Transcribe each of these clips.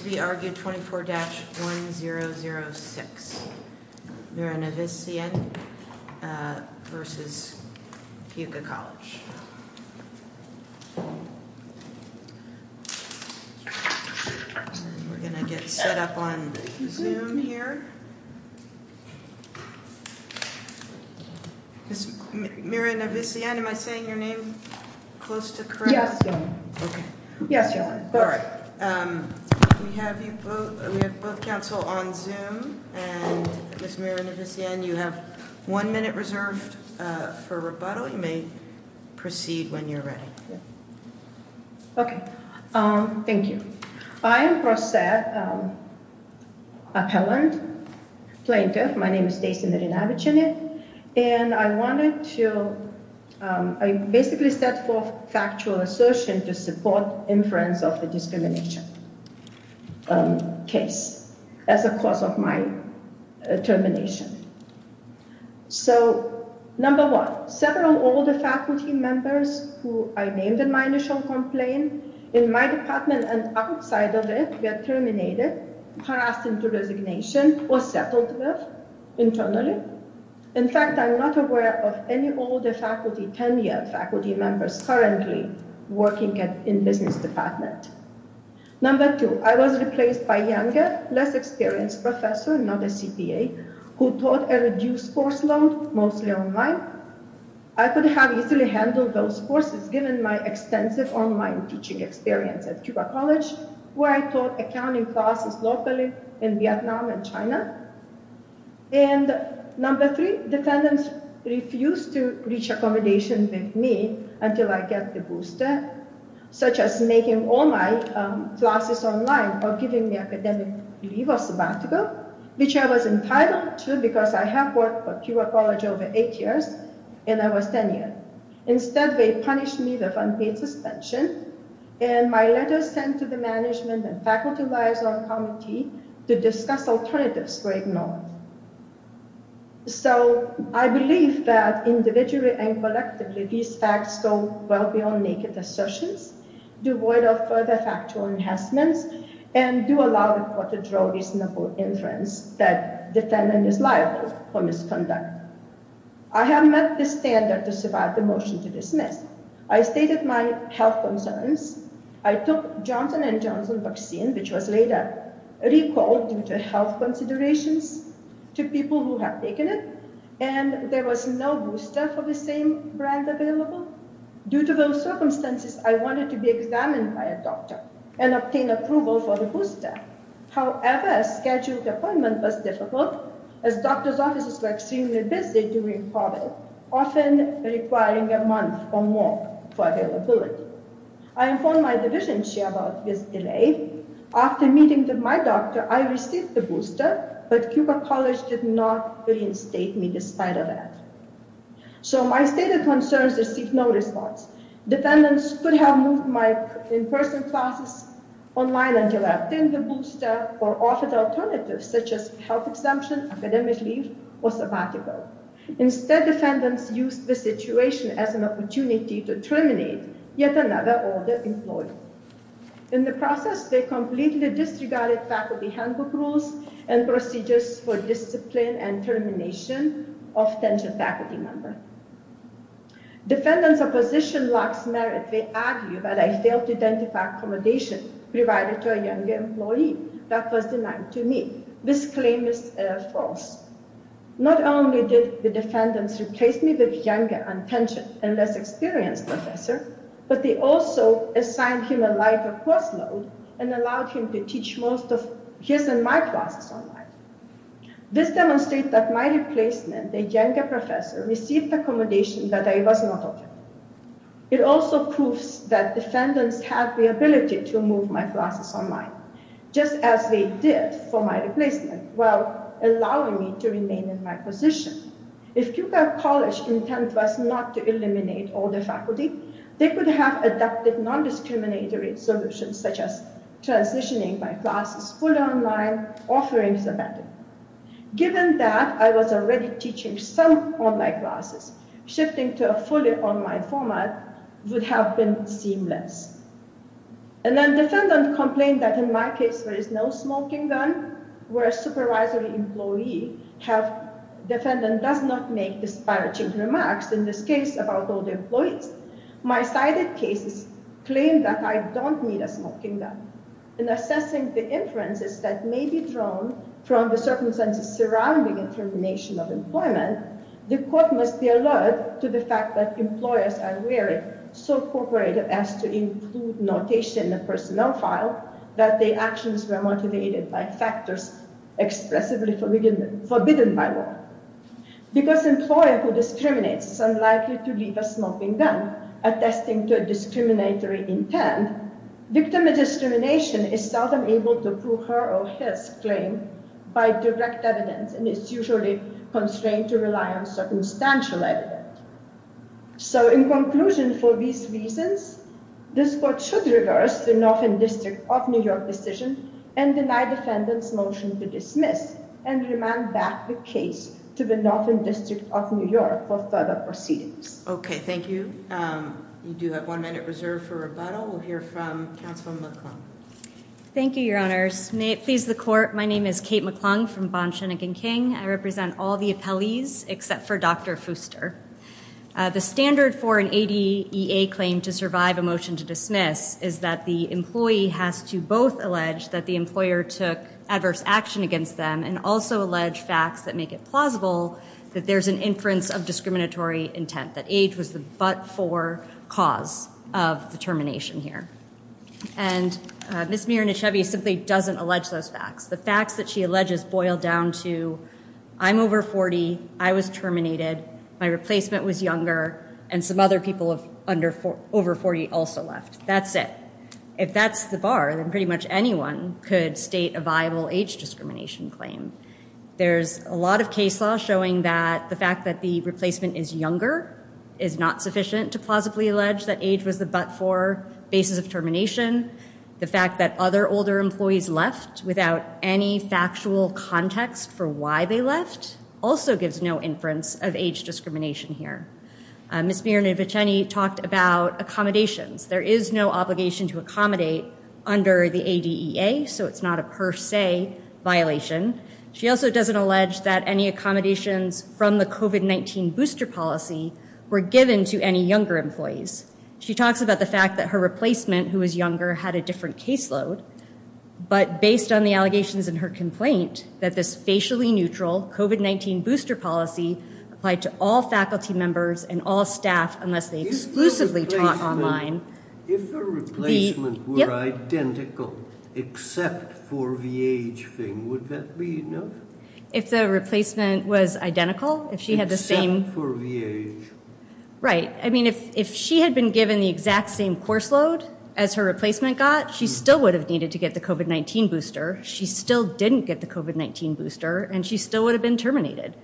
Mirinaviciene v. Keuka College We have both counsel on Zoom, and Ms. Mirinaviciene, you have one minute reserved for rebuttal. You may proceed when you're ready. Okay, thank you. I am a prosaic appellant plaintiff. My name is Stacy Mirinaviciene, and I wanted to, I basically set forth factual assertion to support inference of the discrimination case as a cause of my determination. So, number one, several older faculty members who I named in my initial complaint in my department and outside of it were terminated, passed into resignation, or settled with internally. In fact, I'm not aware of any older faculty, 10-year faculty members currently working in business department. Number two, I was replaced by younger, less experienced professor, not a CPA, who taught a reduced course load, mostly online. I couldn't have easily handled those courses given my extensive online teaching experience at Keuka College, where I taught accounting classes locally in Vietnam and China. And number three, defendants refused to reach accommodation with me until I get the booster, such as making all my classes online or giving me academic leave or sabbatical, which I was entitled to because I have worked for Keuka College over eight years, and I was 10 years. Instead, they punished me with unpaid suspension, and my letters sent to the management and faculty liaison committee to discuss alternatives were ignored. So, I believe that individually and collectively, these facts go well beyond naked assertions, devoid of further factual enhancements, and do allow the court to draw reasonable inference that defendant is liable for misconduct. I have met the standard to survive the motion to dismiss. I stated my health concerns. I took Johnson & Johnson vaccine, which was later recalled due to health considerations to people who have taken it, and there was no booster for the same brand available. Due to those circumstances, I wanted to be examined by a doctor and obtain approval for the booster. However, a scheduled appointment was difficult, as doctor's offices were extremely busy during COVID, often requiring a month or more for availability. I informed my division chair about this delay. After meeting with my doctor, I received the booster, but Keuka College did not reinstate me despite of that. So, my stated concerns received no response. Defendants could have moved my in-person classes online until I obtained the booster or offered alternatives such as health exemption, academic leave, or sabbatical. Instead, defendants used the situation as an opportunity to terminate yet another older employee. In the process, they completely disregarded faculty handbook rules and procedures for discipline and termination of tenured faculty members. Defendants' opposition lacks merit. They argue that I failed to identify accommodation provided to a younger employee that was denied to me. This claim is false. Not only did the defendants replace me with a younger, untensioned, and less experienced professor, but they also assigned him a lighter course load and allowed him to teach most of his and my classes online. This demonstrates that my replacement, a younger professor, received accommodation that I was not offered. It also proves that defendants have the ability to move my classes online, just as they did for my replacement, while allowing me to remain in my position. If Puget College's intent was not to eliminate older faculty, they could have adopted non-discriminatory solutions such as transitioning my classes fully online or offering sabbatical. Given that, I was already teaching some online classes. Shifting to a fully online format would have been seamless. Defendants complain that in my case there is no smoking gun, where a supervisory employee does not make disparaging remarks about older employees. My cited cases claim that I don't need a smoking gun. In assessing the inferences that may be drawn from the circumstances surrounding intermination of employment, the court must be alert to the fact that employers are wary, so cooperative as to include notation in the personnel file, that their actions were motivated by factors expressively forbidden by law. Because an employer who discriminates is unlikely to leave a smoking gun, attesting to a discriminatory intent, victim of discrimination is seldom able to prove her or his claim by direct evidence, and is usually constrained to rely on circumstantial evidence. So, in conclusion, for these reasons, this court should reverse the Norfolk District of New York decision and deny defendants' motion to dismiss and remand back the case to the Norfolk District of New York for further proceedings. Okay, thank you. You do have one minute reserved for rebuttal. We'll hear from Counselor McClung. Thank you, Your Honors. May it please the court, my name is Kate McClung from Bond, Schoenig and King. I represent all the appellees except for Dr. Fooster. The standard for an ADEA claim to survive a motion to dismiss is that the employee has to both allege that the employer took adverse action against them and also allege facts that make it plausible that there's an inference of discriminatory intent, that age was the but-for cause of the termination here. And Ms. Miranichevy simply doesn't allege those facts. The facts that she alleges boil down to, I'm over 40, I was terminated, my replacement was younger, and some other people over 40 also left. That's it. If that's the bar, then pretty much anyone could state a viable age discrimination claim. There's a lot of case law showing that the fact that the replacement is younger is not sufficient to plausibly allege that age was the but-for basis of termination. The fact that other older employees left without any factual context for why they left also gives no inference of age discrimination here. Ms. Miranichevy talked about accommodations. There is no obligation to accommodate under the ADEA, so it's not a per se violation. She also doesn't allege that any accommodations from the COVID-19 booster policy were given to any younger employees. She talks about the fact that her replacement, who was younger, had a different caseload. But based on the allegations in her complaint, that this facially neutral COVID-19 booster policy applied to all faculty members and all staff unless they exclusively taught online. If the replacement were identical except for the age thing, would that be enough? If the replacement was identical, if she had the same... Except for the age. Right. I mean, if she had been given the exact same course load as her replacement got, she still would have needed to get the COVID-19 booster. She still didn't get the COVID-19 booster, and she still would have been terminated.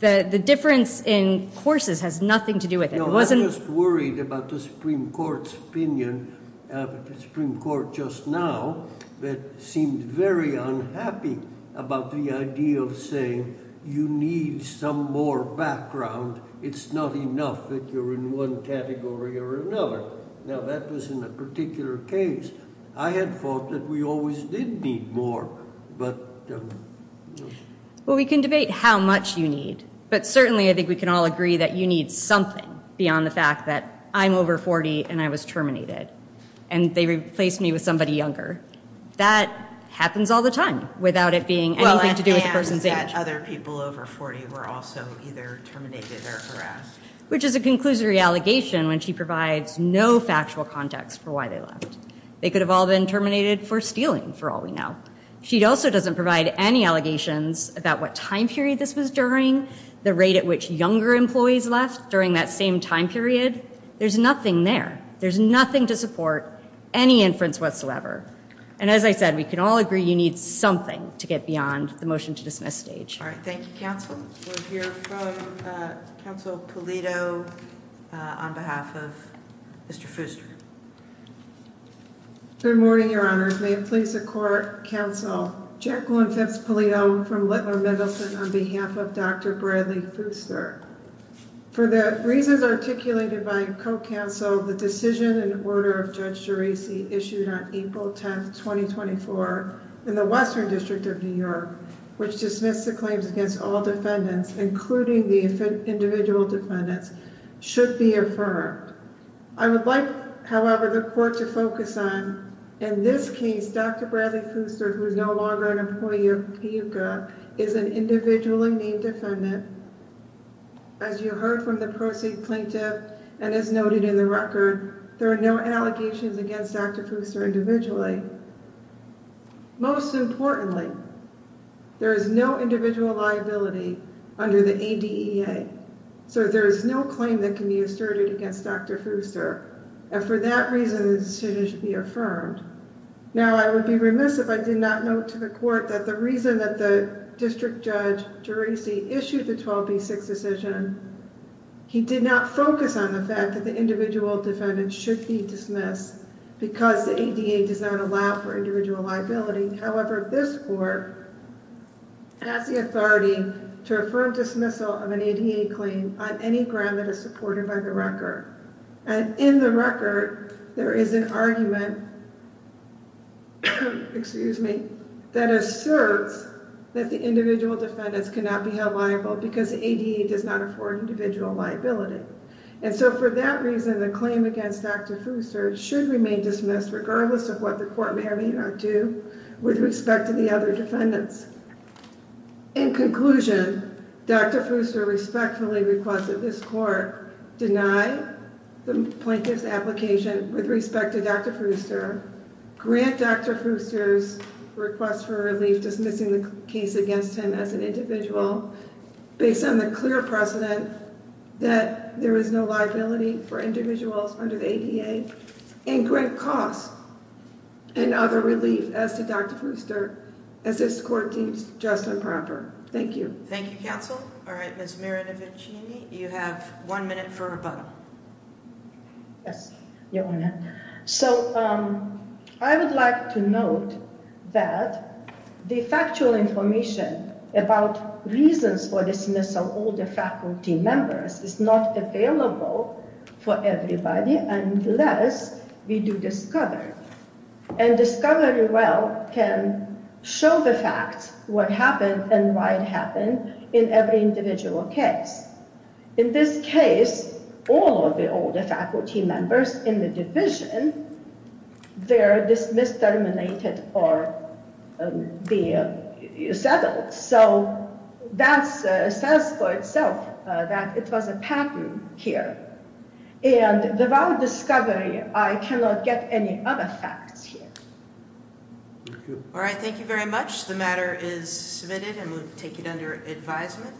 The difference in courses has nothing to do with it. I was just worried about the Supreme Court's opinion, the Supreme Court just now, that seemed very unhappy about the idea of saying you need some more background. It's not enough that you're in one category or another. Now, that was in a particular case. I had thought that we always did need more, but... Well, we can debate how much you need, but certainly I think we can all agree that you need something beyond the fact that I'm over 40 and I was terminated, and they replaced me with somebody younger. That happens all the time without it being anything to do with a person's age. Well, and that other people over 40 were also either terminated or harassed. Which is a conclusory allegation when she provides no factual context for why they left. They could have all been terminated for stealing, for all we know. She also doesn't provide any allegations about what time period this was during, the rate at which younger employees left during that same time period. There's nothing there. There's nothing to support any inference whatsoever. And as I said, we can all agree you need something to get beyond the motion to dismiss stage. All right. Thank you, Counsel. We'll hear from Counsel Polito on behalf of Mr. Fooster. Good morning, Your Honor. May it please the Court, Counsel, Jacqueline Fitz-Polito from Littler Middleton on behalf of Dr. Bradley Fooster. For the reasons articulated by Co-Counsel, the decision and order of Judge Geraci issued on April 10, 2024 in the Western District of New York, which dismissed the claims against all defendants, including the individual defendants, should be affirmed. I would like, however, the Court to focus on, in this case, Dr. Bradley Fooster, who is no longer an employee of PUCA, is an individually named defendant. As you heard from the Proceed plaintiff and as noted in the record, there are no allegations against Dr. Fooster individually. Most importantly, there is no individual liability under the ADEA, so there is no claim that can be asserted against Dr. Fooster. And for that reason, the decision should be affirmed. Now, I would be remiss if I did not note to the Court that the reason that the District Judge Geraci issued the 12B6 decision, he did not focus on the fact that the individual defendant should be dismissed because the ADEA does not allow for individual liability. However, this Court has the authority to affirm dismissal of an ADEA claim on any ground that is supported by the record. And in the record, there is an argument that asserts that the individual defendants cannot be held liable because the ADEA does not afford individual liability. And so for that reason, the claim against Dr. Fooster should remain dismissed regardless of what the Court may or may not do with respect to the other defendants. In conclusion, Dr. Fooster respectfully requests that this Court deny the plaintiff's application with respect to Dr. Fooster, grant Dr. Fooster's request for relief dismissing the case against him as an individual, based on the clear precedent that there is no liability for individuals under the ADEA, and grant costs and other relief as to Dr. Fooster, as this Court deems just and proper. Thank you. Thank you, Counsel. All right, Ms. Mirinovicini, you have one minute for rebuttal. Yes, Your Honor. So I would like to note that the factual information about reasons for dismissal of all the faculty members is not available for everybody unless we do discovery. And discovery, well, can show the facts, what happened and why it happened in every individual case. In this case, all of the older faculty members in the division, they're dismissed, terminated, or settled. So that says for itself that it was a pattern here. And without discovery, I cannot get any other facts here. All right, thank you very much. The matter is submitted and we'll take it under advisement.